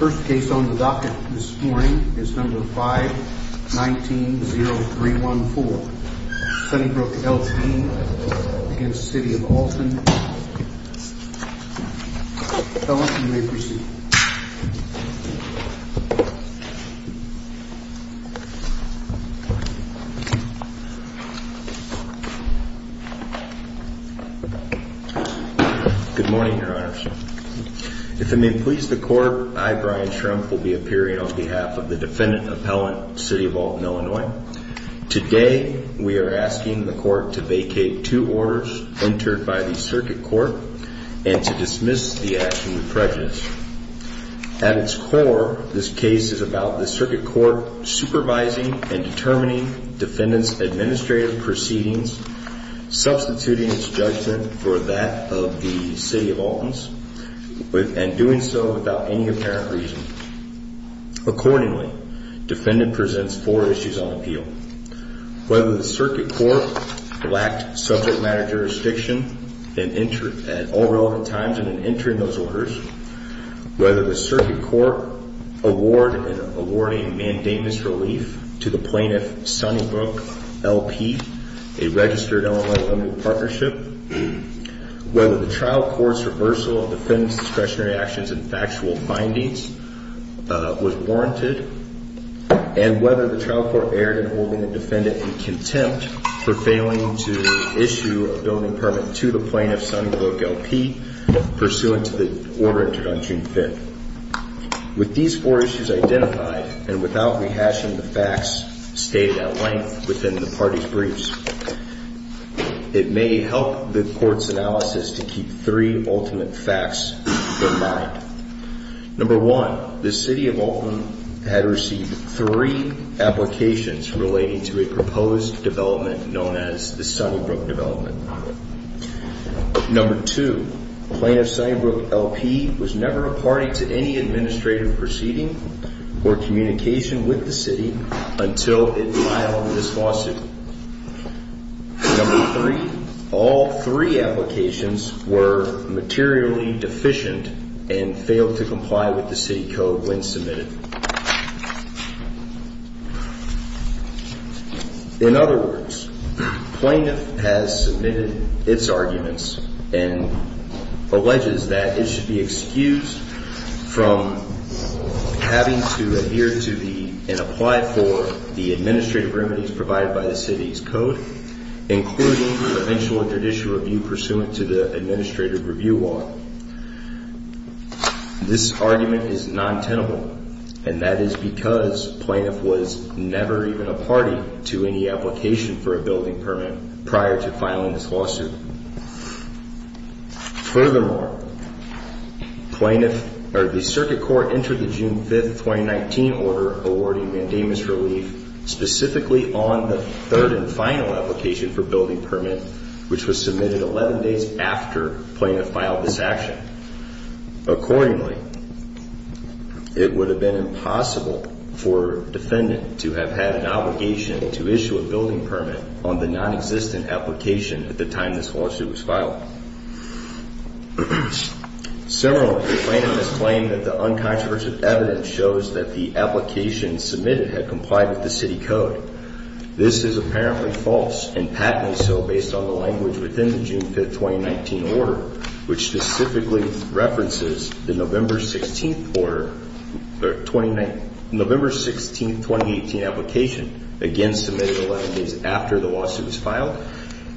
First case on the docket this morning is number 5190314 Sunnybrook LP v. City of Alton. Fellas, you may proceed. Good morning, your honors. If it may please the court, I, Brian Trump, will be appearing on behalf of the defendant appellant, City of Alton, Illinois. Today, we are asking the court to vacate two orders entered by the circuit court and to dismiss the action with prejudice. At its core, this case is about the circuit court supervising and determining defendant's administrative proceedings, substituting its judgment for that of the City of Alton's, and doing so without any apparent reason. Accordingly, defendant presents four issues on appeal. Whether the circuit court lacked subject matter jurisdiction at all relevant times in entering those orders, whether the circuit court award a mandamus relief to the plaintiff, Sunnybrook LP, a registered Illinois Limited Partnership, whether the trial court's reversal of defendant's discretionary actions and factual findings was warranted, and whether the trial court erred in holding the defendant in contempt for failing to issue a building permit to the plaintiff, Sunnybrook LP, pursuant to the order entered on June 5th. With these four issues identified, and without rehashing the facts stated at length within the party's briefs, it may help the court's analysis to keep three ultimate facts in mind. Number one, the City of Alton had received three applications relating to a proposed development known as the Sunnybrook development. Number two, Plaintiff Sunnybrook LP was never a party to any administrative proceeding or communication with the City until it filed this lawsuit. Number three, all three applications were materially deficient and failed to comply with the City Code when submitted. In other words, Plaintiff has submitted its arguments and alleges that it should be excused from having to adhere to the and apply for the administrative remedies provided by the City's Code, including the eventual judicial review pursuant to the administrative review law. This argument is non-tenable, and that is because Plaintiff was never even a party to any application for a building permit prior to filing this lawsuit. Furthermore, the Circuit Court entered the June 5th, 2019 order awarding mandamus relief specifically on the third and final application for building permit, which was submitted 11 days after Plaintiff filed this action. Accordingly, it would have been impossible for a defendant to have had an obligation to issue a building permit on the non-existent application at the time this lawsuit was filed. Similarly, Plaintiff has claimed that the uncontroversial evidence shows that the application submitted had complied with the City Code. This is apparently false, and patently so based on the language within the June 5th, 2019 order, which specifically references the November 16th, 2018 application, again submitted 11 days after the lawsuit was filed,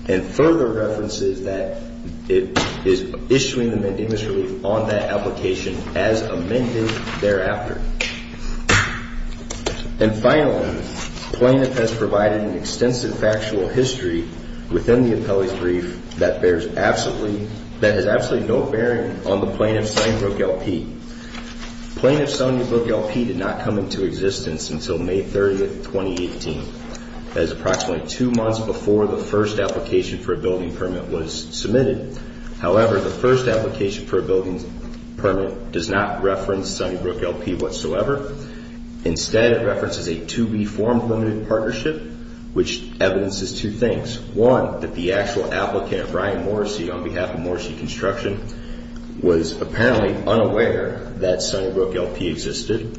and further references that it is issuing the mandamus relief on that application as amended thereafter. And finally, Plaintiff has provided an extensive factual history within the appellee's brief that bears absolutely, that has absolutely no bearing on the Plaintiff's Sunnybrook LP. Plaintiff's Sunnybrook LP did not come into existence until May 30th, 2018. That is approximately two months before the first application for a building permit was submitted. However, the first application for a building permit does not reference Sunnybrook LP whatsoever. Instead, it references a 2B form-limited partnership, which evidences two things. One, that the actual applicant, Brian Morrissey, on behalf of Morrissey Construction, was apparently unaware that Sunnybrook LP existed.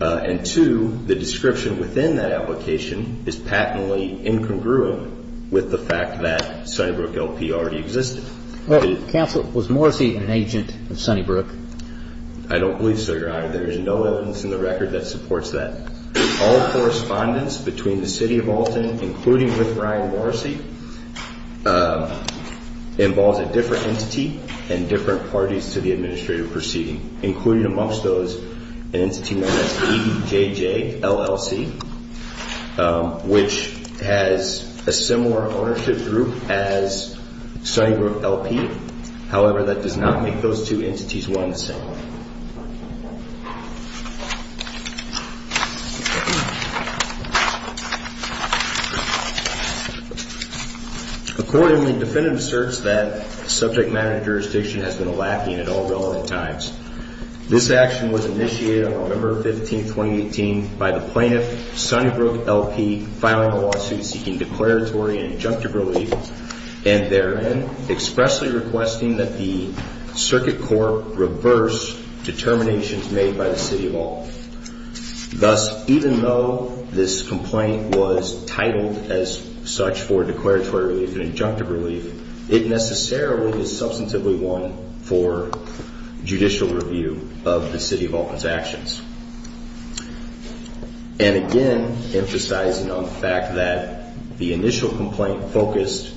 And two, the description within that application is patently incongruent with the fact that Sunnybrook LP already existed. Counsel, was Morrissey an agent of Sunnybrook? I don't believe so, Your Honor. There is no evidence in the record that supports that. All correspondence between the City of Alton, including with Brian Morrissey, involves a different entity and different parties to the administrative proceeding, including amongst those an entity known as EJJ LLC, which has a similar ownership group as Sunnybrook LP. However, that does not make those two entities one and the same. Accordingly, the defendant asserts that subject matter jurisdiction has been lacking at all relevant times. This action was initiated on November 15, 2018, by the plaintiff, Sunnybrook LP, filing a lawsuit seeking declaratory and injunctive relief, and therein expressly requesting that the circuit court reverse determinations made by the City of Alton. Thus, even though this complaint was titled as such for declaratory relief and injunctive relief, it necessarily is substantively one for judicial review of the City of Alton's actions. And again, emphasizing on the fact that the initial complaint focused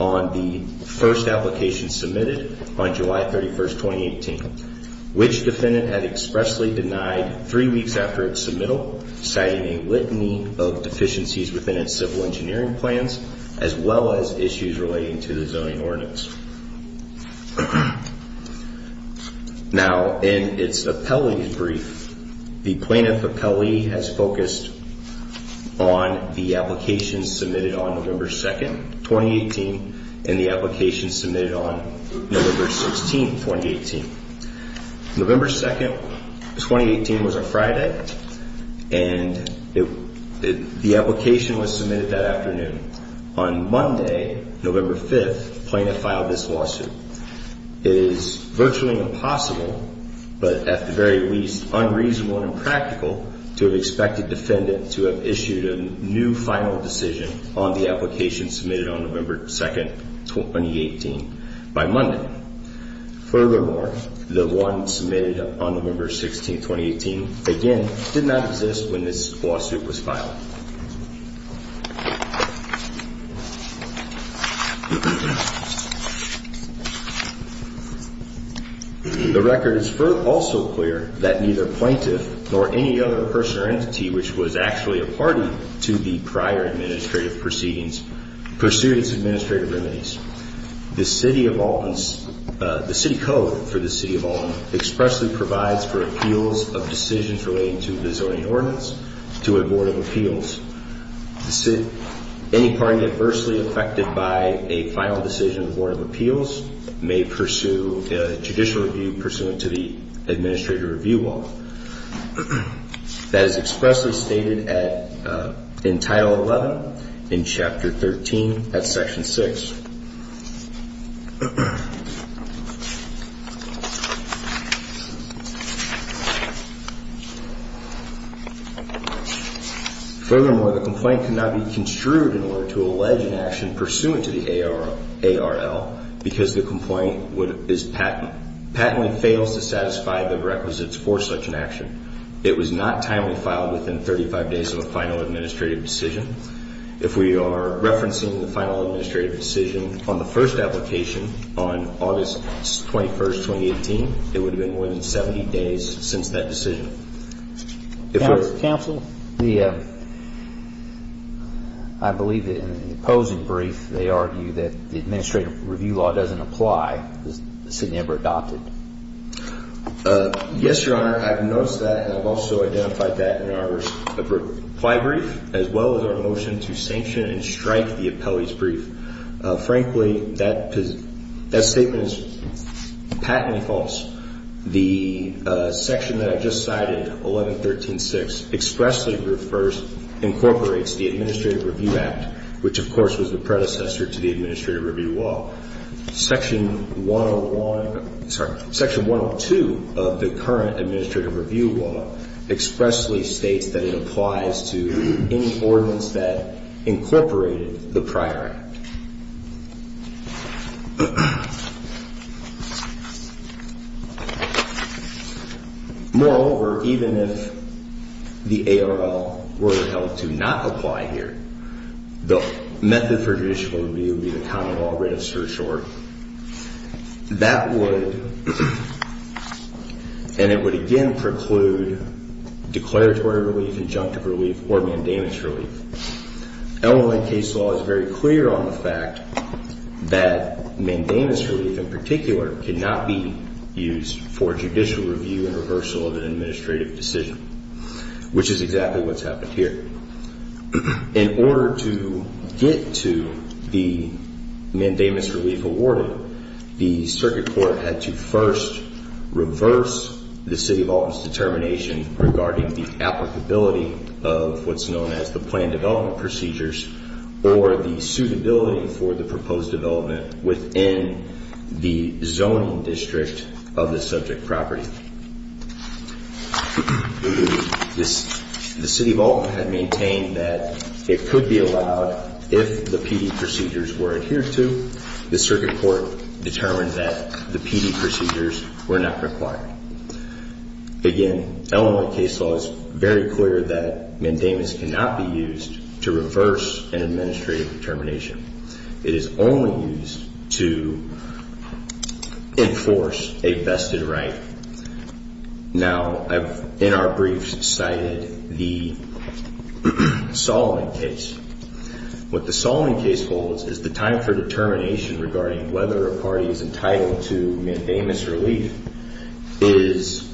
on the first application submitted on July 31, 2018, which defendant had expressly denied three weeks after its submittal, citing a litany of deficiencies within its civil engineering plans, as well as issues relating to the zoning ordinance. Now, in its appellee brief, the plaintiff appellee has focused on the application submitted on November 2, 2018, and the application submitted on November 16, 2018. November 2, 2018 was a Friday, and the application was submitted that afternoon. On Monday, November 5, the plaintiff filed this lawsuit. It is virtually impossible, but at the very least unreasonable and impractical, to have expected defendant to have issued a new final decision on the application submitted on November 2, 2018, by Monday. Furthermore, the one submitted on November 16, 2018, again, did not exist when this lawsuit was filed. The record is also clear that neither plaintiff nor any other person or entity which was actually a party to the prior administrative proceedings pursued its administrative remedies. The City of Alton's, the City Code for the City of Alton expressly provides for appeals of decisions relating to the zoning ordinance to a Board of Appeals. Any party adversely affected by a final decision of the Board of Appeals may pursue a judicial review pursuant to the administrative review law. That is expressly stated in Title 11 in Chapter 13 at Section 6. Furthermore, the complaint cannot be construed in order to allege an action pursuant to the ARL because the complaint is patently fails to satisfy the requisites for such an action. It was not timely filed within 35 days of a final administrative decision. If we are referencing the final administrative decision on the first application on August 21, 2018, it would have been more than 70 days since that decision. Counsel, I believe in the opposing brief they argue that the administrative review law doesn't apply. Has this been ever adopted? Yes, Your Honor. I've noticed that and I've also identified that in our reply brief as well as our motion to sanction and strike the appellee's brief. Frankly, that statement is patently false. The section that I just cited, 1113.6, expressly refers, incorporates the Administrative Review Act, which of course was the predecessor to the Administrative Review Law. Section 101, sorry, Section 102 of the current Administrative Review Law expressly states that it applies to any ordinance that incorporated the prior act. Moreover, even if the ARL were held to not apply here, the method for judicial review would be the common law writ of certiorari. That would, and it would again preclude declaratory relief, injunctive relief, or mandamus relief. LLN case law is very clear on the fact that mandamus relief in particular cannot be used for judicial review and reversal of an administrative decision, which is exactly what's happened here. In order to get to the mandamus relief awarded, the circuit court had to first reverse the City of Alton's determination regarding the applicability of what's known as the planned development procedures or the suitability for the proposed development within the zoning district of the subject property. The City of Alton had maintained that it could be allowed if the PD procedures were adhered to. The circuit court determined that the PD procedures were not required. Again, LLN case law is very clear that mandamus cannot be used to reverse an administrative determination. It is only used to enforce a vested right. Now, I've in our briefs cited the Solomon case. What the Solomon case holds is the time for determination regarding whether a party is entitled to mandamus relief is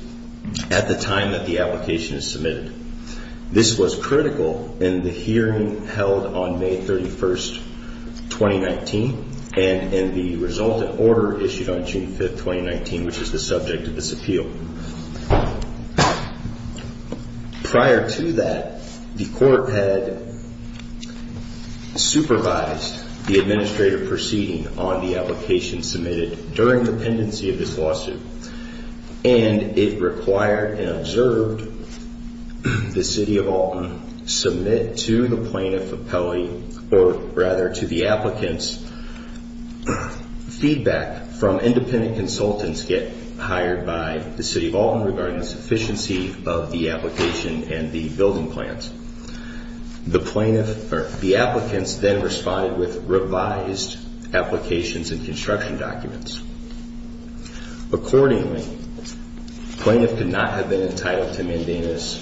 at the time that the application is submitted. This was critical in the hearing held on May 31st, 2019, and in the resultant order issued on June 5th, 2019, which is the subject of this appeal. Prior to that, the court had supervised the administrative proceeding on the application submitted during the pendency of this lawsuit, and it required and observed the City of Alton submit to the plaintiff appellee or rather to the applicants feedback from independent consultants get hired by the City of Alton. Regarding the sufficiency of the application and the building plans, the plaintiff or the applicants then responded with revised applications and construction documents. Accordingly, plaintiff could not have been entitled to mandamus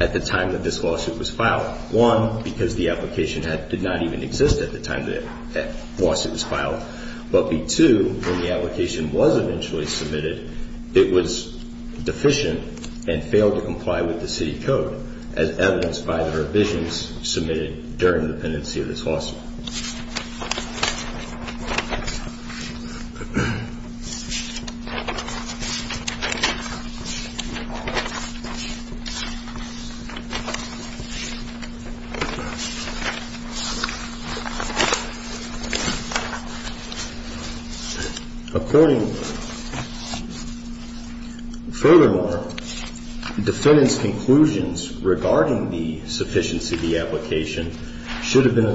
at the time that this lawsuit was filed. One, because the application did not even exist at the time that the lawsuit was filed, but two, when the application was eventually submitted, it was deficient and failed to comply with the city code as evidenced by the revisions submitted during the pendency of this lawsuit. Accordingly, furthermore, defendant's conclusions regarding the sufficiency of the application should have been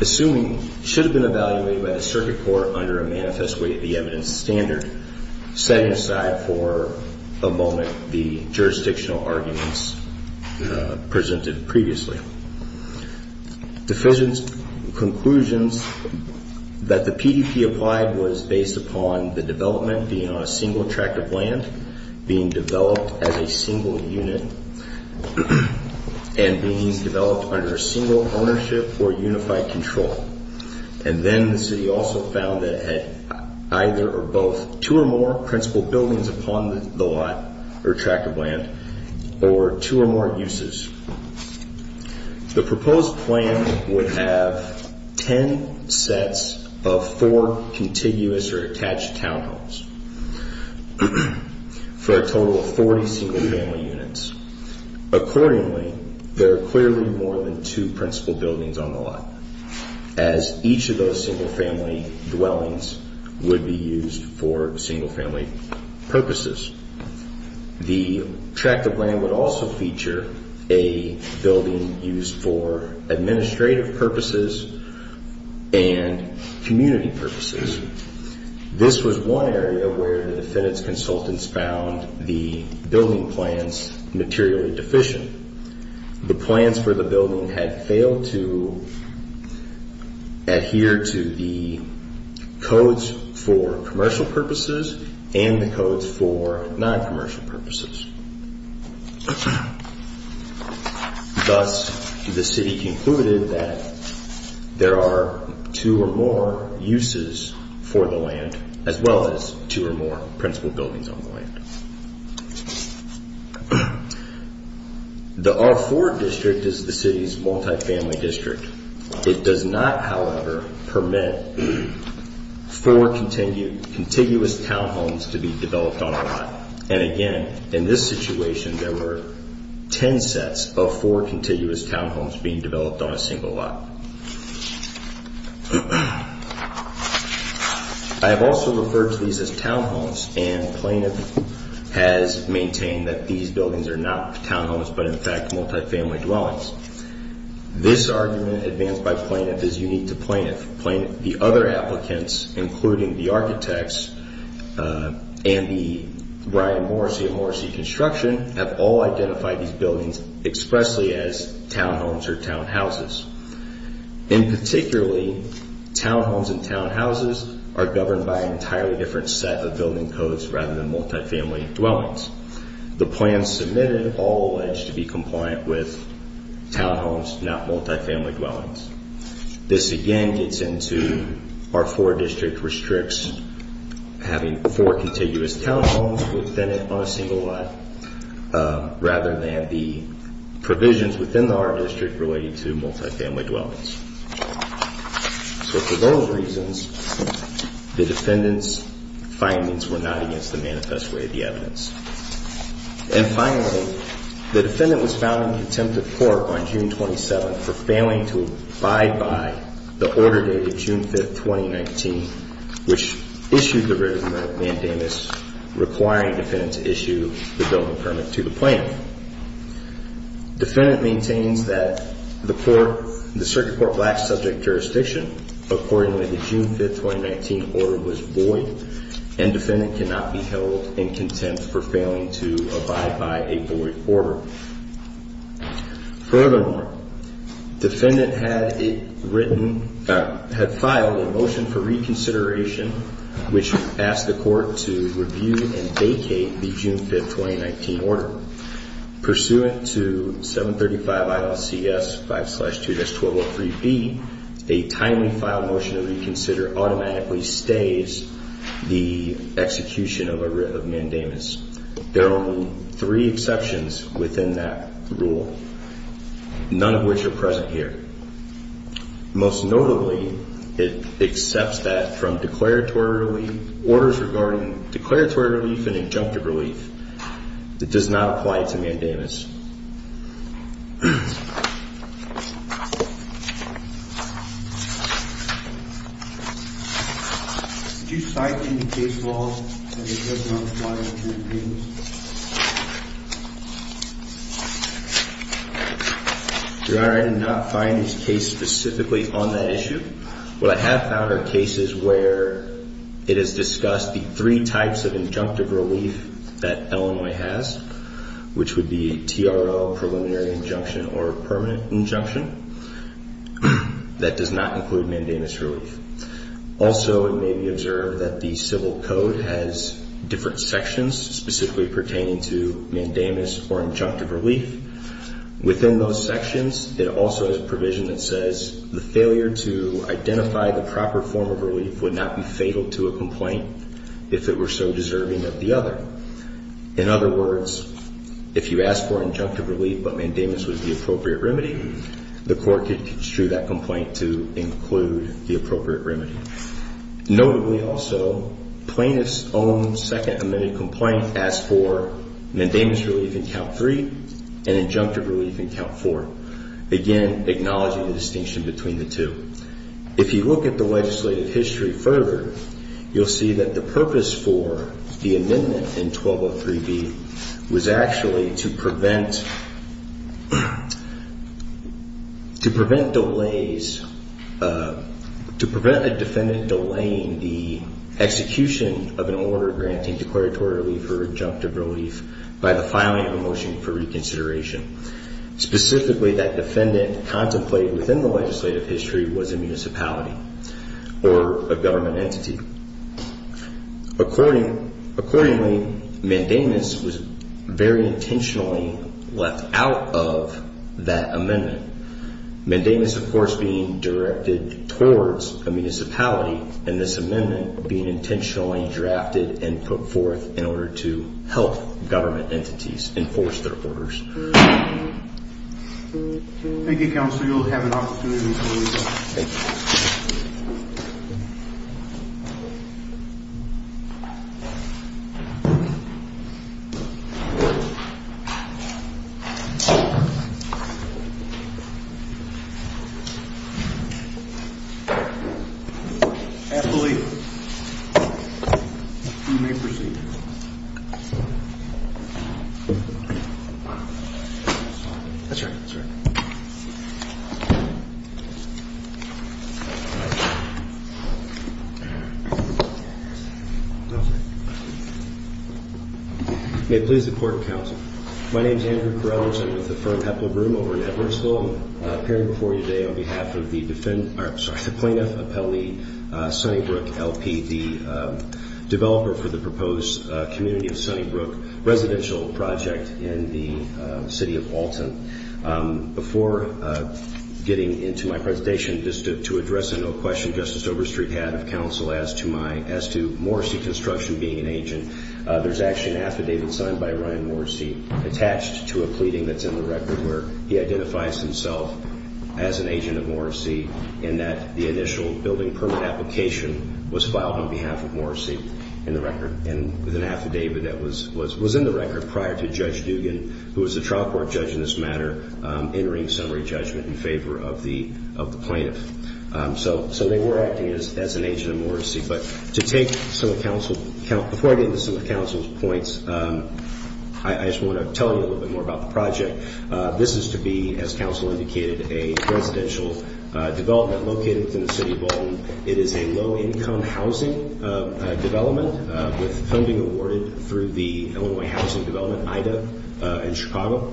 assuming should have been evaluated by the circuit court under a manifest way of the evidence standard setting aside for a moment the jurisdictional arguments presented previously. Deficient conclusions that the PDP applied was based upon the development being on a single tract of land, being developed as a single unit, and being developed under a single ownership or unified control. And then the city also found that it had either or both two or more principal buildings upon the lot or tract of land or two or more uses. The proposed plan would have ten sets of four contiguous or attached townhomes for a total of 40 single family units. Accordingly, there are clearly more than two principal buildings on the lot as each of those single family dwellings would be used for single family purposes. The tract of land would also feature a building used for administrative purposes and community purposes. This was one area where the defendant's consultants found the building plans materially deficient. The plans for the building had failed to adhere to the codes for commercial purposes and the codes for non-commercial purposes. Thus, the city concluded that there are two or more uses for the land as well as two or more principal buildings on the land. The R4 district is the city's multifamily district. It does not, however, permit four contiguous townhomes to be developed on a lot. And again, in this situation, there were ten sets of four contiguous townhomes being developed on a single lot. I have also referred to these as townhomes and plaintiff has maintained that these buildings are not townhomes but in fact multifamily dwellings. This argument advanced by plaintiff is unique to plaintiff. The other applicants, including the architects and the Ryan Morrissey of Morrissey Construction, have all identified these buildings expressly as townhomes or townhouses. And particularly, townhomes and townhouses are governed by an entirely different set of building codes rather than multifamily dwellings. The plans submitted all allege to be compliant with townhomes, not multifamily dwellings. This again gets into R4 district restricts having four contiguous townhomes within it on a single lot rather than the provisions within the R district relating to multifamily dwellings. So for those reasons, the defendant's findings were not against the manifest way of the evidence. And finally, the defendant was found in contempt of court on June 27th for failing to abide by the order dated June 5th, 2019, which issued the written mandamus requiring the defendant to issue the building permit to the plaintiff. Defendant maintains that the circuit court lacks subject jurisdiction. Accordingly, the June 5th, 2019 order was void and defendant cannot be held in contempt for failing to abide by a void order. Furthermore, defendant had filed a motion for reconsideration, which asked the court to review and vacate the June 5th, 2019 order. Pursuant to 735 ILCS 5-2-1203B, a timely file motion to reconsider automatically stays the execution of a writ of mandamus. There are only three exceptions within that rule, none of which are present here. Most notably, it accepts that from declaratory orders regarding declaratory relief and injunctive relief, it does not apply to mandamus. Do you cite any case law that does not apply to injunctive relief? Your Honor, I did not find this case specifically on that issue. What I have found are cases where it has discussed the three types of injunctive relief that Illinois has, which would be TRL, preliminary injunction, or permanent injunction, that does not include mandamus relief. Also, it may be observed that the civil code has different sections specifically pertaining to mandamus or injunctive relief. Within those sections, it also has provision that says the failure to identify the proper form of relief would not be fatal to a complaint if it were so deserving of the other. In other words, if you ask for injunctive relief but mandamus was the appropriate remedy, the court could construe that complaint to include the appropriate remedy. Notably also, plaintiff's own second amended complaint asked for mandamus relief in count three and injunctive relief in count four. Again, acknowledging the distinction between the two. If you look at the legislative history further, you'll see that the purpose for the amendment in 1203B was actually to prevent a defendant delaying the execution of an order granting declaratory relief or injunctive relief by the filing of a motion for reconsideration. Specifically, that defendant contemplated within the legislative history was a municipality or a government entity. Accordingly, mandamus was very intentionally left out of that amendment. Mandamus, of course, being directed towards a municipality and this amendment being intentionally drafted and put forth in order to help government entities enforce their orders. Thank you, Counselor. You'll have an opportunity to leave. Thank you. Thank you. I believe you may proceed. That's all right. That's all right. Okay. May it please the Court and Counsel. My name is Andrew Corrella. I'm with the firm Heppler Broom over in Edwardsville. I'm appearing before you today on behalf of the plaintiff, Appellee Sunnybrook, L.P., the developer for the proposed community of Sunnybrook residential project in the city of Alton. Before getting into my presentation, just to address a question Justice Overstreet had of counsel as to Morrissey Construction being an agent, there's actually an affidavit signed by Ryan Morrissey attached to a pleading that's in the record where he identifies himself as an agent of Morrissey in that the initial building permit application was filed on behalf of Morrissey in the record and with an affidavit that was in the record prior to Judge Dugan, who was the trial court judge in this matter, entering summary judgment in favor of the plaintiff. So they were acting as an agent of Morrissey. But to take some of counsel's points, I just want to tell you a little bit more about the project. This is to be, as counsel indicated, a residential development located within the city of Alton. It is a low-income housing development with funding awarded through the Illinois Housing Development, IDA, in Chicago.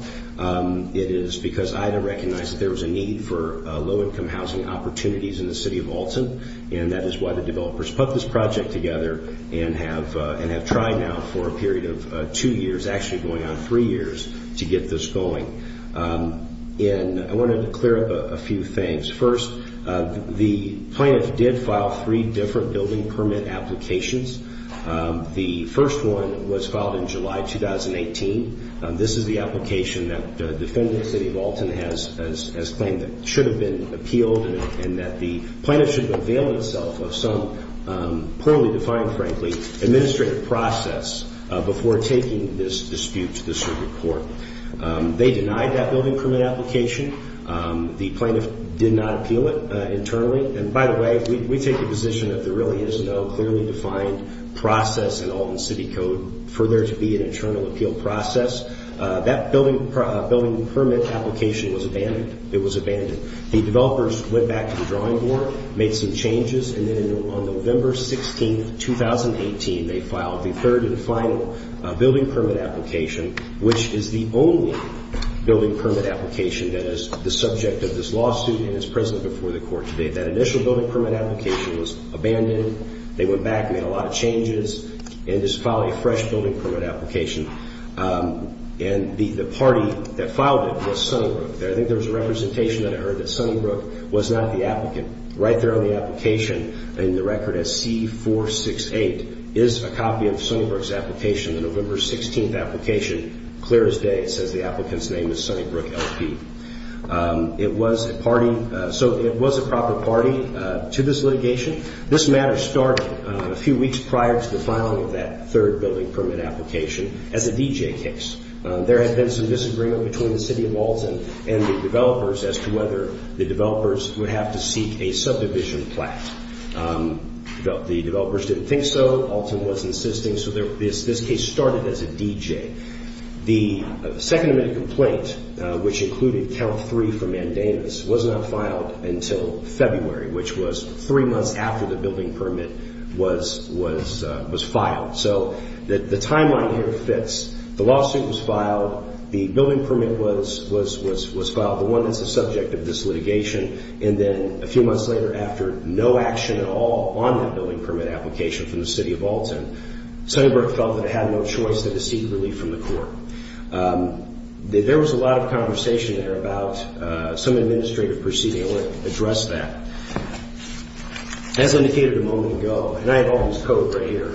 It is because IDA recognized that there was a need for low-income housing opportunities in the city of Alton, and that is why the developers put this project together and have tried now for a period of two years, actually going on three years, to get this going. And I wanted to clear up a few things. First, the plaintiff did file three different building permit applications. The first one was filed in July 2018. This is the application that the defendant, the city of Alton, has claimed that should have been appealed and that the plaintiff should avail itself of some poorly defined, frankly, administrative process before taking this dispute to the circuit court. They denied that building permit application. The plaintiff did not appeal it internally. And by the way, we take the position that there really is no clearly defined process in Alton City Code for there to be an internal appeal process. That building permit application was abandoned. The developers went back to the drawing board, made some changes, and then on November 16, 2018, they filed the third and final building permit application, which is the only building permit application that is the subject of this lawsuit and is present before the court today. That initial building permit application was abandoned. They went back, made a lot of changes, and just filed a fresh building permit application. And the party that filed it was Sunnybrook. I think there was a representation that I heard that Sunnybrook was not the applicant. Right there on the application in the record as C468 is a copy of Sunnybrook's application, the November 16th application, clear as day. It says the applicant's name is Sunnybrook LP. It was a party, so it was a proper party to this litigation. This matter started a few weeks prior to the filing of that third building permit application as a DJ case. There had been some disagreement between the City of Alton and the developers as to whether the developers would have to seek a subdivision plaque. The developers didn't think so. Alton was insisting, so this case started as a DJ. The second amendment complaint, which included count three for mandamus, was not filed until February, which was three months after the building permit was filed. So the timeline here fits. The lawsuit was filed. The building permit was filed, the one that's the subject of this litigation. And then a few months later, after no action at all on that building permit application from the City of Alton, Sunnybrook felt that it had no choice but to seek relief from the court. There was a lot of conversation there about some administrative proceeding. I want to address that. As indicated a moment ago, and I have Alton's code right here,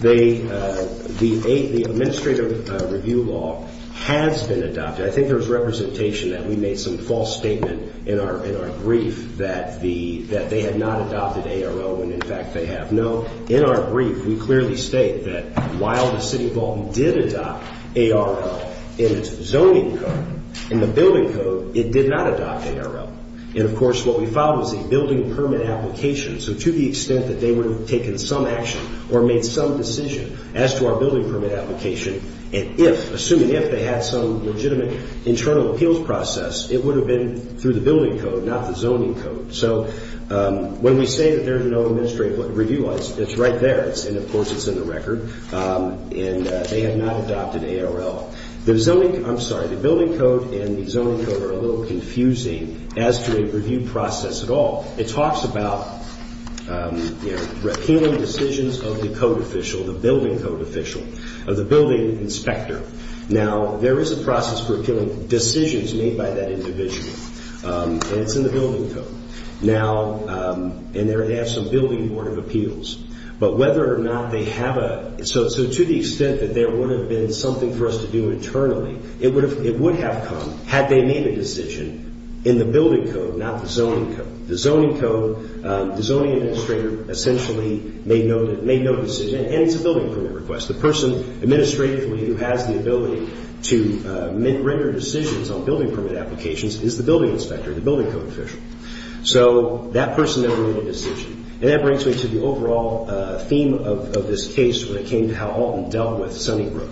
the administrative review law has been adopted. I think there was representation that we made some false statement in our brief that they had not adopted ARL when, in fact, they have. No, in our brief, we clearly state that while the City of Alton did adopt ARL in its zoning code, in the building code, it did not adopt ARL. And, of course, what we filed was a building permit application. So to the extent that they would have taken some action or made some decision as to our building permit application, and if, assuming if, they had some legitimate internal appeals process, it would have been through the building code, not the zoning code. So when we say that there's no administrative review laws, it's right there. And, of course, it's in the record. And they have not adopted ARL. The zoning, I'm sorry, the building code and the zoning code are a little confusing as to a review process at all. It talks about appealing decisions of the code official, the building code official, of the building inspector. Now, there is a process for appealing decisions made by that individual, and it's in the building code. Now, and they have some building board of appeals. But whether or not they have a, so to the extent that there would have been something for us to do internally, it would have come had they made a decision in the building code, not the zoning code. The zoning code, the zoning administrator essentially made no decision, and it's a building permit request. The person administratively who has the ability to render decisions on building permit applications is the building inspector, the building code official. So that person never made a decision. And that brings me to the overall theme of this case when it came to how Alton dealt with Sunnybrook,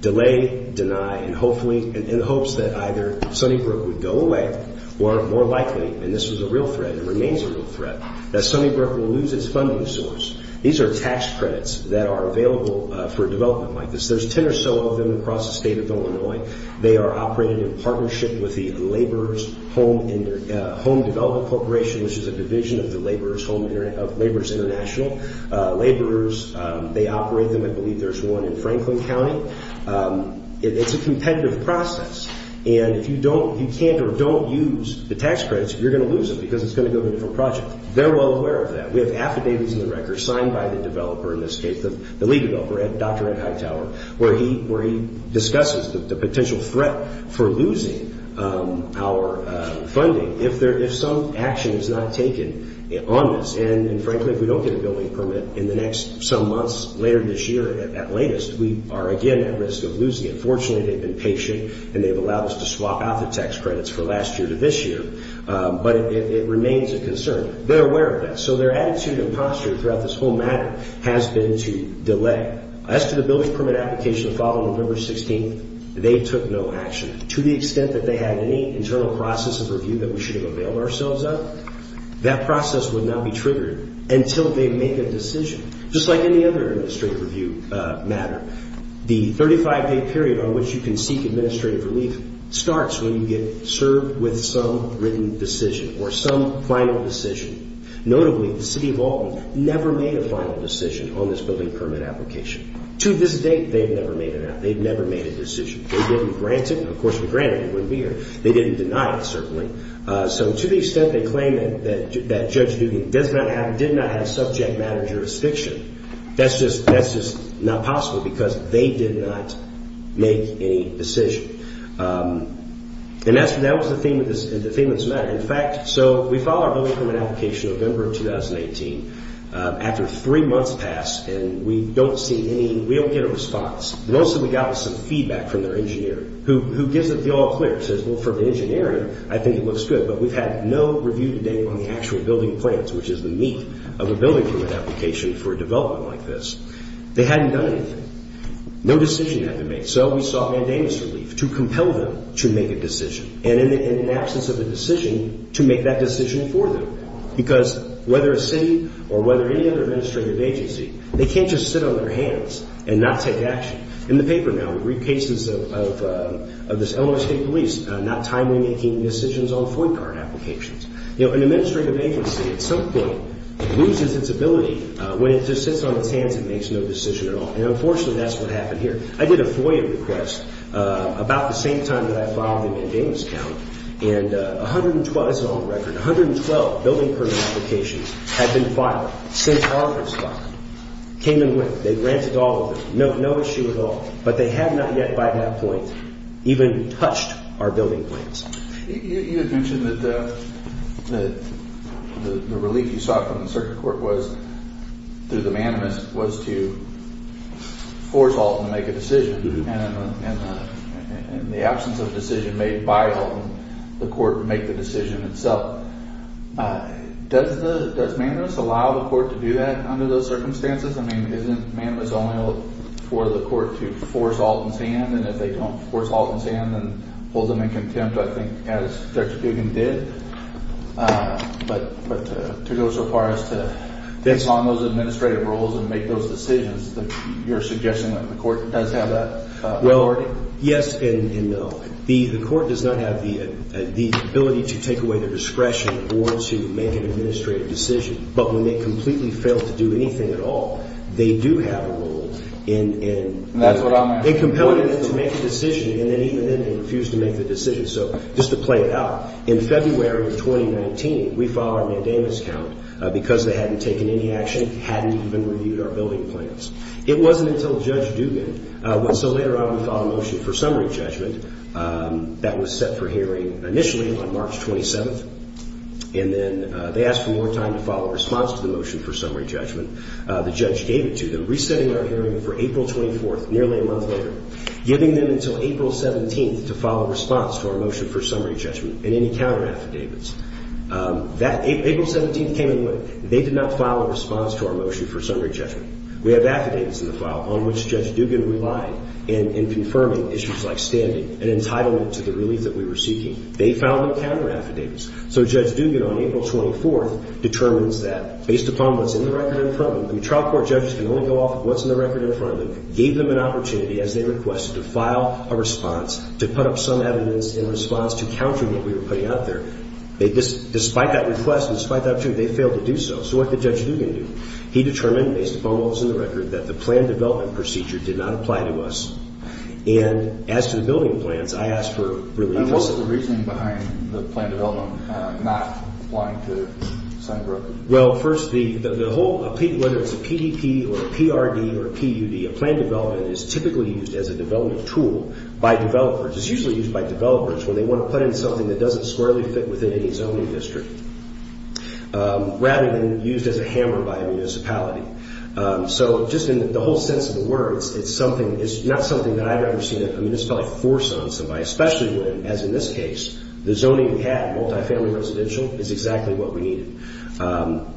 delay, deny, and hopefully, in the hopes that either Sunnybrook would go away or more likely, and this was a real threat, it remains a real threat, that Sunnybrook will lose its funding source. These are tax credits that are available for development like this. There's 10 or so of them across the state of Illinois. They are operated in partnership with the Laborers Home Development Corporation, which is a division of the Laborers International. Laborers, they operate them, I believe there's one in Franklin County. It's a competitive process. And if you can't or don't use the tax credits, you're going to lose them because it's going to go to a different project. They're well aware of that. We have affidavits in the record signed by the developer in this case, the lead developer, Dr. Ed Hightower, where he discusses the potential threat for losing our funding if some action is not taken on this. And frankly, if we don't get a building permit in the next some months, later this year at latest, we are again at risk of losing it. Fortunately, they've been patient and they've allowed us to swap out the tax credits for last year to this year. But it remains a concern. They're aware of that. So their attitude and posture throughout this whole matter has been to delay. As to the building permit application following November 16th, they took no action. To the extent that they had any internal process of review that we should have availed ourselves of, that process would not be triggered until they make a decision. Just like any other administrative review matter, the 35-day period on which you can seek administrative relief starts when you get served with some written decision or some final decision. Notably, the City of Alton never made a final decision on this building permit application. To this date, they've never made a decision. They didn't grant it. Of course, if they granted it, it wouldn't be here. They didn't deny it, certainly. To the extent they claim that Judge Dugan did not have a subject matter jurisdiction, that's just not possible because they did not make any decision. That was the theme of this matter. In fact, we filed our building permit application in November of 2018. After three months passed, we don't get a response. Most of the time, we got some feedback from their engineer, who gives it the all-clear. He says, well, from the engineer, I think it looks good. But we've had no review to date on the actual building plans, which is the meat of a building permit application for a development like this. They hadn't done anything. No decision had been made. So we sought mandamus relief to compel them to make a decision. And in the absence of a decision, to make that decision for them. Because whether a city or whether any other administrative agency, they can't just sit on their hands and not take action. In the paper now, we read cases of the Illinois State Police not timely making decisions on FOIA card applications. An administrative agency, at some point, loses its ability. When it just sits on its hands, it makes no decision at all. And unfortunately, that's what happened here. I did a FOIA request about the same time that I filed the mandamus count. And 112, this is all on record, 112 building permit applications had been filed, since August 5th, came and went. They granted all of them, no issue at all. But they had not yet, by that point, even touched our building plans. You had mentioned that the relief you sought from the circuit court was, through the mandamus, was to force Alton to make a decision. And in the absence of a decision made by Alton, the court would make the decision itself. Does mandamus allow the court to do that under those circumstances? I mean, isn't mandamus only for the court to force Alton's hand? And if they don't force Alton's hand, then hold them in contempt, I think, as Judge Duggan did? But to go so far as to take on those administrative roles and make those decisions, you're suggesting that the court does have that authority? Well, yes and no. The court does not have the ability to take away their discretion or to make an administrative decision. But when they completely fail to do anything at all, they do have a role. And that's what I'm asking. They compel you to make a decision, and then even then they refuse to make the decision. So just to play it out, in February of 2019, we filed our mandamus count because they hadn't taken any action, hadn't even reviewed our building plans. It wasn't until Judge Duggan, so later on we filed a motion for summary judgment that was set for hearing initially on March 27th. And then they asked for more time to file a response to the motion for summary judgment. The judge gave it to them, resetting our hearing for April 24th, nearly a month later, giving them until April 17th to file a response to our motion for summary judgment and any counter-affidavits. April 17th came and went. They did not file a response to our motion for summary judgment. We have affidavits in the file on which Judge Duggan relied in confirming issues like standing and entitlement to the relief that we were seeking. They filed no counter-affidavits. So Judge Duggan, on April 24th, determines that, based upon what's in the record in front of them, trial court judges can only go off of what's in the record in front of them, gave them an opportunity, as they requested, to file a response, to put up some evidence in response to countering what we were putting out there. Despite that request and despite the opportunity, they failed to do so. So what did Judge Duggan do? He determined, based upon what was in the record, that the plan development procedure did not apply to us. And as to the building plans, I asked for relief. And what was the reasoning behind the plan development not applying to Santa Rosa? Well, first, whether it's a PDP or a PRD or a PUD, a plan development is typically used as a development tool by developers. It's usually used by developers when they want to put in something that doesn't squarely fit within any zoning district, rather than used as a hammer by a municipality. So just in the whole sense of the word, it's not something that I've ever seen a municipality force on somebody, especially when, as in this case, the zoning we had, multifamily residential, is exactly what we needed. So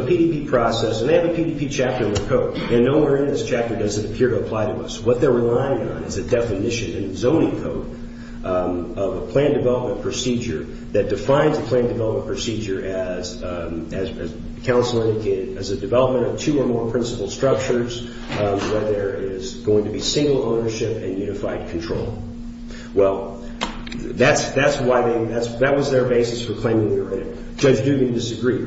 the PDP process, and they have a PDP chapter in their code, and nowhere in this chapter does it appear to apply to us. What they're relying on is a definition in zoning code of a plan development procedure that defines a plan development procedure, as counsel indicated, as a development of two or more principal structures, where there is going to be single ownership and unified control. Well, that was their basis for claiming the right. Judge Dugan disagreed.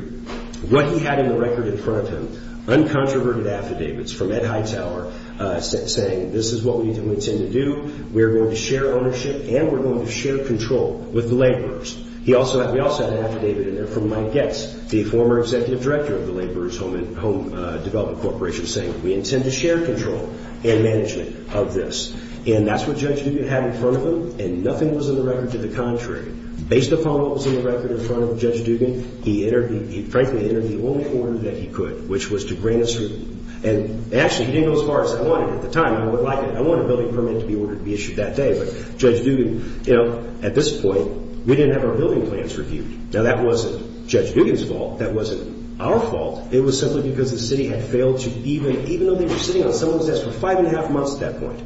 What he had in the record in front of him, uncontroverted affidavits from Ed Hightower, saying this is what we intend to do. We're going to share ownership, and we're going to share control with the laborers. We also had an affidavit in there from Mike Getz, the former executive director of the Laborers Home Development Corporation, saying we intend to share control and management of this. And that's what Judge Dugan had in front of him, and nothing was in the record to the contrary. Based upon what was in the record in front of Judge Dugan, he frankly entered the only order that he could, which was to bring us through. And actually, he didn't go as far as I wanted. At the time, I wanted a building permit to be issued that day, but Judge Dugan, you know, at this point, we didn't have our building plans reviewed. Now, that wasn't Judge Dugan's fault. That wasn't our fault. It was simply because the city had failed to even, even though they were sitting on someone's desk for five and a half months at that point,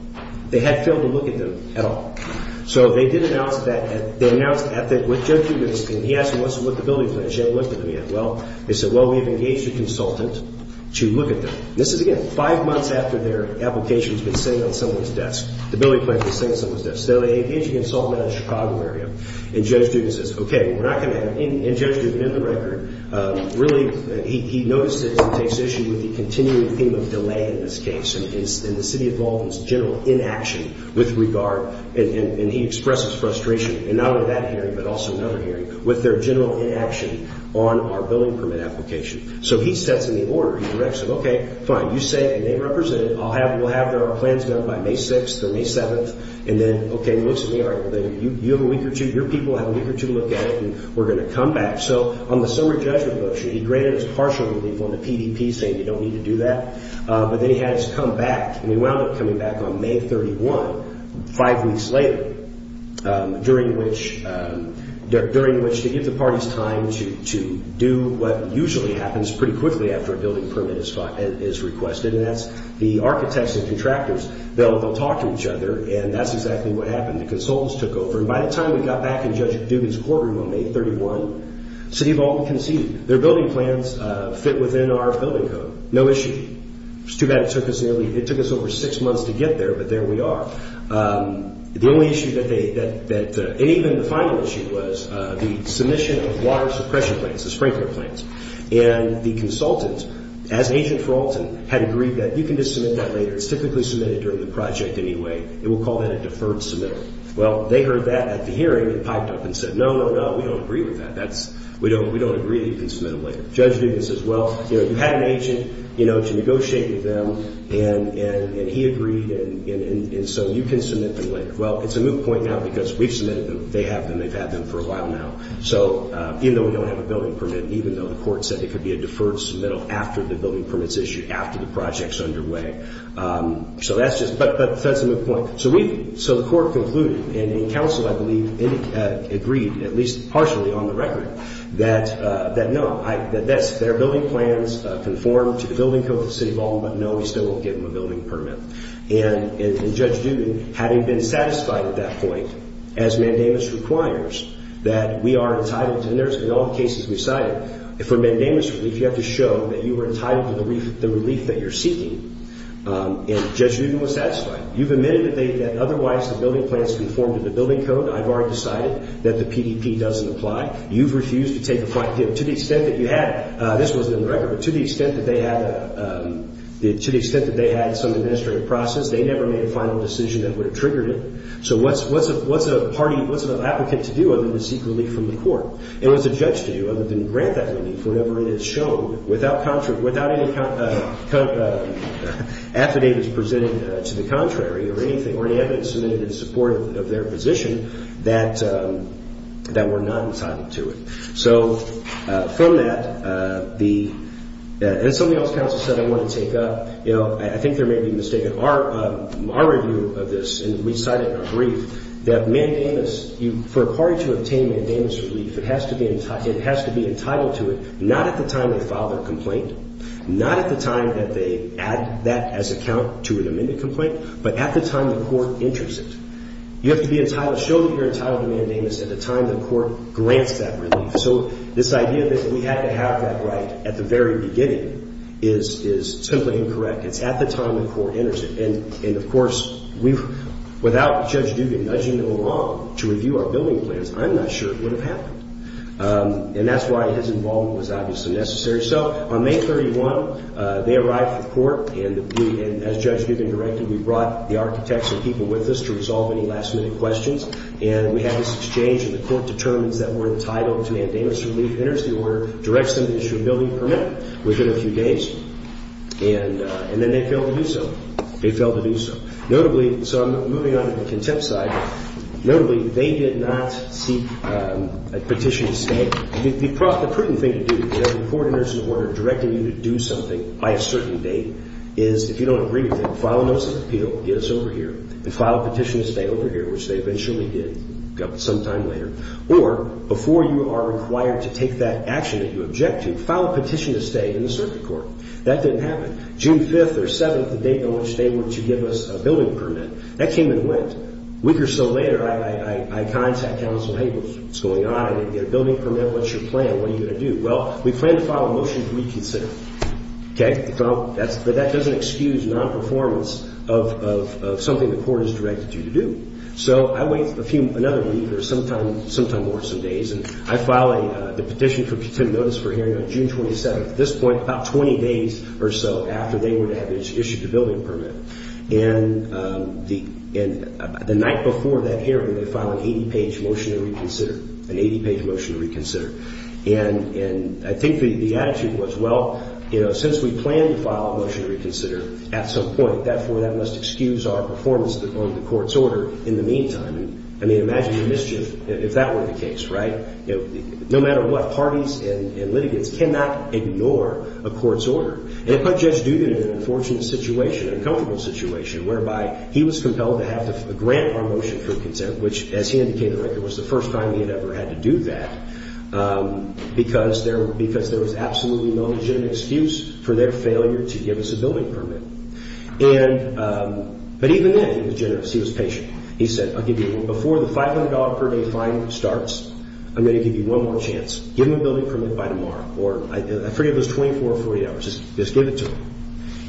they had failed to look at them at all. So they did announce that, they announced at the, with Judge Dugan, and he asked them, what's the building plan? She hadn't looked at them yet. Well, they said, well, we have engaged a consultant to look at them. This is, again, five months after their application has been sitting on someone's desk. The building plan has been sitting on someone's desk. So they engaged a consultant out of the Chicago area, and Judge Dugan says, okay, we're not going to have, and Judge Dugan, in the record, really, he notices and takes issue with the continuing theme of delay in this case, and the city of Baldwin's general inaction with regard, and he expresses frustration, and not only that hearing, but also another hearing, with their general inaction on our building permit application. So he sets in the order. He directs them, okay, fine, you say, and they represent it, we'll have our plans met by May 6th or May 7th, and then, okay, most of you, you have a week or two, your people have a week or two to look at it, and we're going to come back. So on the summary judgment motion, he granted us partial relief on the PDP, saying you don't need to do that, but then he had us come back, and we wound up coming back on May 31, five weeks later, during which they give the parties time to do what usually happens pretty quickly after a building permit is requested, and that's the architects and contractors. They'll talk to each other, and that's exactly what happened. The consultants took over, and by the time we got back in Judge Dugan's courtroom on May 31, the City of Alton conceded. Their building plans fit within our building code, no issue. It was too bad it took us nearlyóit took us over six months to get there, but there we are. The only issue that theyóand even the final issue was the submission of water suppression plans, the sprinkler plans, and the consultants, as agent for Alton, had agreed that you can just submit that later, it's typically submitted during the project anyway, and we'll call that a deferred submitter. Well, they heard that at the hearing and piped up and said, no, no, no, we don't agree with that. We don't agree that you can submit them later. Judge Dugan says, well, you had an agent to negotiate with them, and he agreed, and so you can submit them later. Well, it's a moot point now because we've submitted them, they have them, they've had them for a while now, even though we don't have a building permit, even though the court said it could be a deferred submittal after the building permit's issued, after the project's underway. So that's justóbut that's a moot point. So weóso the court concluded, and counsel, I believe, agreed, at least partially, on the record, that no, that their building plans conform to the building code of the city of Alton, but no, we still won't give them a building permit. And Judge Dugan, having been satisfied at that point, as mandamus requires, that we are entitled toóand there'sóin all the cases we've cited, for mandamus relief, you have to show that you were entitled to the relief that you're seeking, and Judge Dugan was satisfied. You've admitted that theyóthat otherwise the building plans conformed to the building code. I've already decided that the PDP doesn't apply. You've refused to take a flight to giveóto the extent that you hadóthis wasn't in the record, but to the extent that they had aóto the extent that they had some administrative process, they never made a final decision that would have triggered it. So what's a partyówhat's an applicant to do other than to seek relief from the court? And what's a judge to do other than grant that relief, whatever it has shown, without any affidavits presented to the contrary or anything, or any evidence submitted in support of their position, that we're not entitled to it? So from that, theóand somebody else, counsel, said I want to take upóyou know, I think there may be a mistake in our review of this, and we cite it in our brief, that mandamusófor a party to obtain mandamus relief, it has to beóit has to be entitled to it, not at the time they file their complaint, not at the time that they add that as a count to an amended complaint, but at the time the court enters it. You have to be entitledóshow that you're entitled to mandamus at the time the court grants that relief. So this idea that we had to have that right at the very beginning is simply incorrect. It's at the time the court enters it. And, of course, we'veówithout Judge Dugan nudging along to review our building plans, I'm not sure it would have happened. And that's why his involvement was obviously necessary. So on May 31, they arrived at the court, and as Judge Dugan directed, we brought the architects and people with us to resolve any last-minute questions, and we had this exchange, and the court determines that we're entitled to mandamus relief. It enters the order, directs them to issue a building permit within a few days, and then they fail to do so. They fail to do so. Notablyóso I'm moving on to the contempt side. Notably, they did not seek a petition to stay. The prudent thing to do, when the court enters an order directing you to do something by a certain date, is if you don't agree with it, file a notice of appeal, get us over here, and file a petition to stay over here, which they eventually did some time later. Or before you are required to take that action that you object to, file a petition to stay in the circuit court. That didn't happen. June 5th or 7th, the date on which they were to give us a building permit, that came and went. A week or so later, I contact counsel. Hey, what's going on? Did you get a building permit? What's your plan? What are you going to do? Well, we plan to file a motion to reconsider. Okay? But that doesn't excuse non-performance of something the court has directed you to do. So I wait another week or sometime more, some days, and I file the petition for contempt notice for hearing on June 27th. At this point, about 20 days or so after they were to have issued the building permit. And the night before that hearing, they filed an 80-page motion to reconsider. An 80-page motion to reconsider. And I think the attitude was, well, since we plan to file a motion to reconsider at some point, therefore, that must excuse our performance on the court's order in the meantime. I mean, imagine the mischief if that were the case, right? No matter what, parties and litigants cannot ignore a court's order. And it put Judge Dugan in an unfortunate situation, an uncomfortable situation, whereby he was compelled to have to grant our motion for consent, which, as he indicated, was the first time he had ever had to do that, because there was absolutely no legitimate excuse for their failure to give us a building permit. But even then, he was generous. He was patient. He said, I'll give you one. Before the $500 per day fine starts, I'm going to give you one more chance. Give him a building permit by tomorrow. Or I forget if it was 24 or 48 hours. Just give it to him.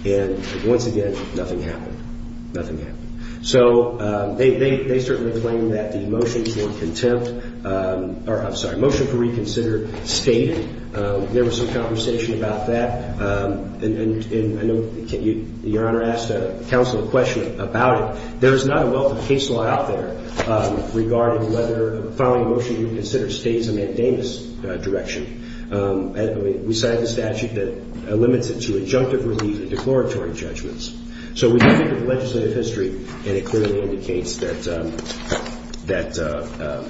And once again, nothing happened. Nothing happened. So they certainly claim that the motion for contempt or, I'm sorry, motion to reconsider stayed. There was some conversation about that. And I know Your Honor asked counsel a question about it. There is not a welcome case law out there regarding whether filing a motion to reconsider stays a mandamus direction. We signed a statute that limits it to injunctive relief and declaratory judgments. So we did look at the legislative history, and it clearly indicates that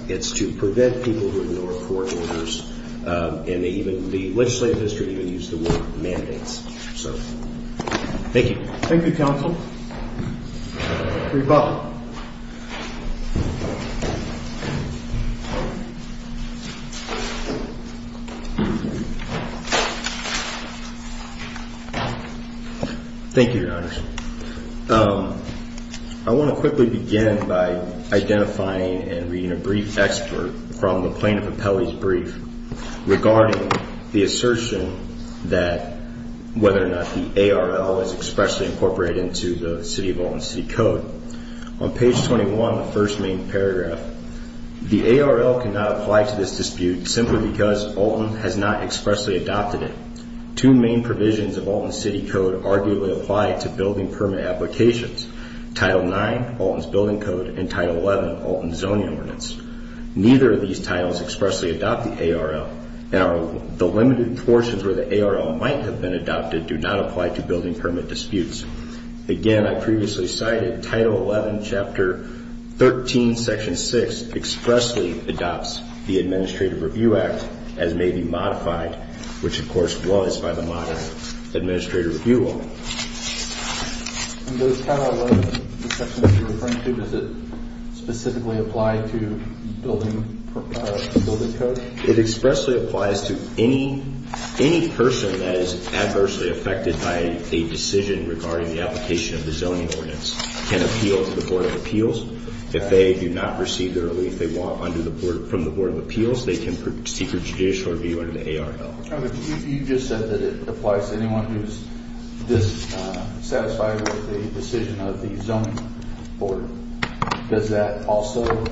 it's to prevent people who ignore court orders, and even the legislative history even used the word mandates. Thank you. Thank you, counsel. Reba. Thank you, Your Honor. I want to quickly begin by identifying and reading a brief expert from the plaintiff appellee's brief regarding the assertion that whether or not the ARL is expressly incorporated into the City of Alton City Code. On page 21, the first main paragraph, the ARL cannot apply to this dispute simply because Alton has not expressly adopted it. Two main provisions of Alton City Code arguably apply to building permit applications, Title IX, Alton's building code, and Title XI, Alton zoning ordinance. Neither of these titles expressly adopt the ARL, and the limited portions where the ARL might have been adopted do not apply to building permit disputes. Again, I previously cited Title XI, Chapter 13, Section 6 expressly adopts the Administrative Review Act as may be modified, which, of course, was by the modern Administrative Review Law. Does Title XI, the section that you're referring to, does it specifically apply to building code? It expressly applies to any person that is adversely affected by a decision regarding the application of the zoning ordinance. It can appeal to the Board of Appeals. If they do not receive the relief they want from the Board of Appeals, they can proceed for judicial review under the ARL. You just said that it applies to anyone who is dissatisfied with the decision of the zoning board. Does that also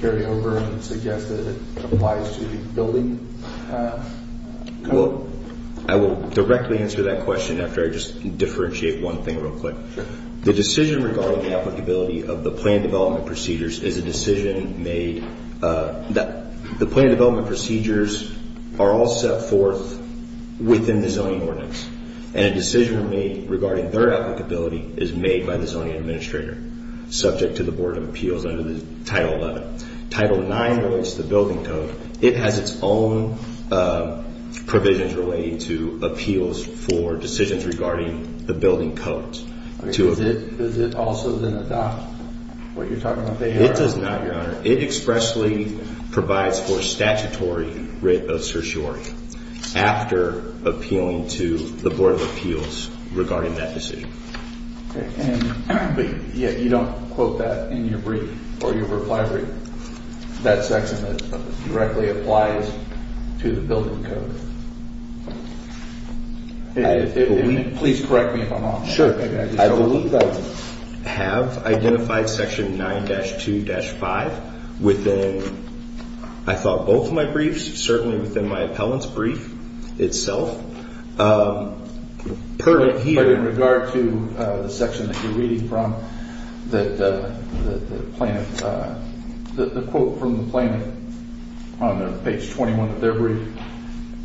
carry over and suggest that it applies to the building? I will directly answer that question after I just differentiate one thing real quick. The decision regarding the applicability of the plan development procedures is a decision made that the plan development procedures are all set forth within the zoning ordinance and a decision made regarding their applicability is made by the zoning administrator, subject to the Board of Appeals under Title XI. Title IX relates to the building code. It has its own provisions relating to appeals for decisions regarding the building codes. Does it also then adopt what you're talking about there? It does not, Your Honor. It expressly provides for statutory writ of certiorari after appealing to the Board of Appeals regarding that decision. You don't quote that in your brief or your reply brief? That section that directly applies to the building code? Sure. I believe I have identified section 9-2-5 within, I thought, both of my briefs, certainly within my appellant's brief itself. But in regard to the section that you're reading from, the quote from the plaintiff on page 21 of their brief,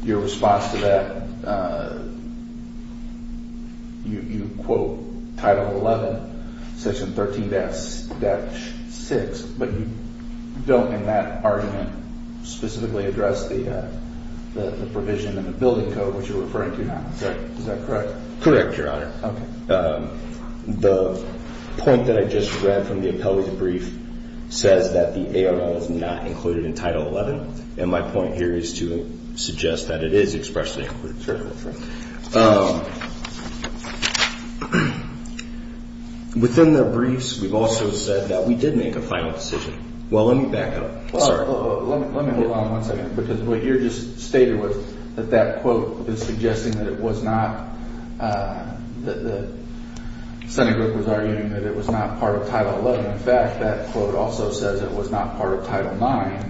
your response to that, you quote Title XI, section 13-6, but you don't in that argument specifically address the provision in the building code, which you're referring to now. Is that correct? Correct, Your Honor. Okay. The point that I just read from the appellant's brief says that the ARL is not included in Title XI, and my point here is to suggest that it is expressly included. Sure. Within the briefs, we've also said that we did make a final decision. Well, let me back up. Sorry. Let me hold on one second, because what you just stated was that that quote is suggesting that it was not, that the Senate group was arguing that it was not part of Title XI. In fact, that quote also says it was not part of Title IX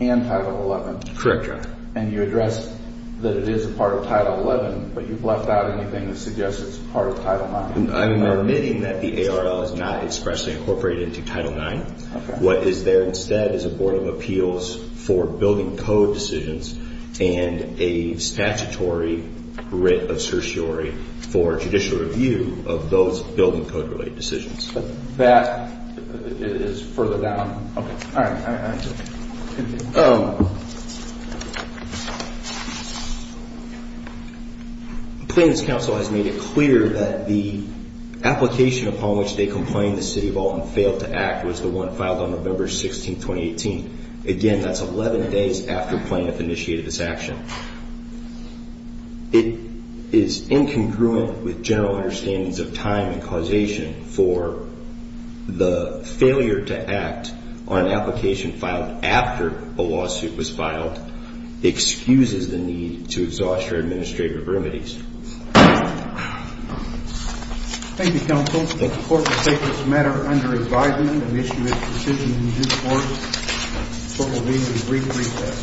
and Title XI. Correct, Your Honor. And you addressed that it is a part of Title XI, but you've left out anything that suggests it's part of Title IX. I'm admitting that the ARL is not expressly incorporated into Title IX. Okay. What is there instead is a Board of Appeals for building code decisions and a statutory writ of certiorari for judicial review of those building code-related decisions. That is further down. Okay. All right. Plaintiff's counsel has made it clear that the application upon which they complained the City of Alton failed to act was the one filed on November 16, 2018. Again, that's 11 days after plaintiff initiated this action. It is incongruent with general understandings of time and causation for the failure to act on an application filed after a lawsuit was filed excuses the need to exhaust your administrative remedies. Thank you, counsel. The Court will take this matter under advisement and issue its decision in due course. The Court will leave at a brief recess.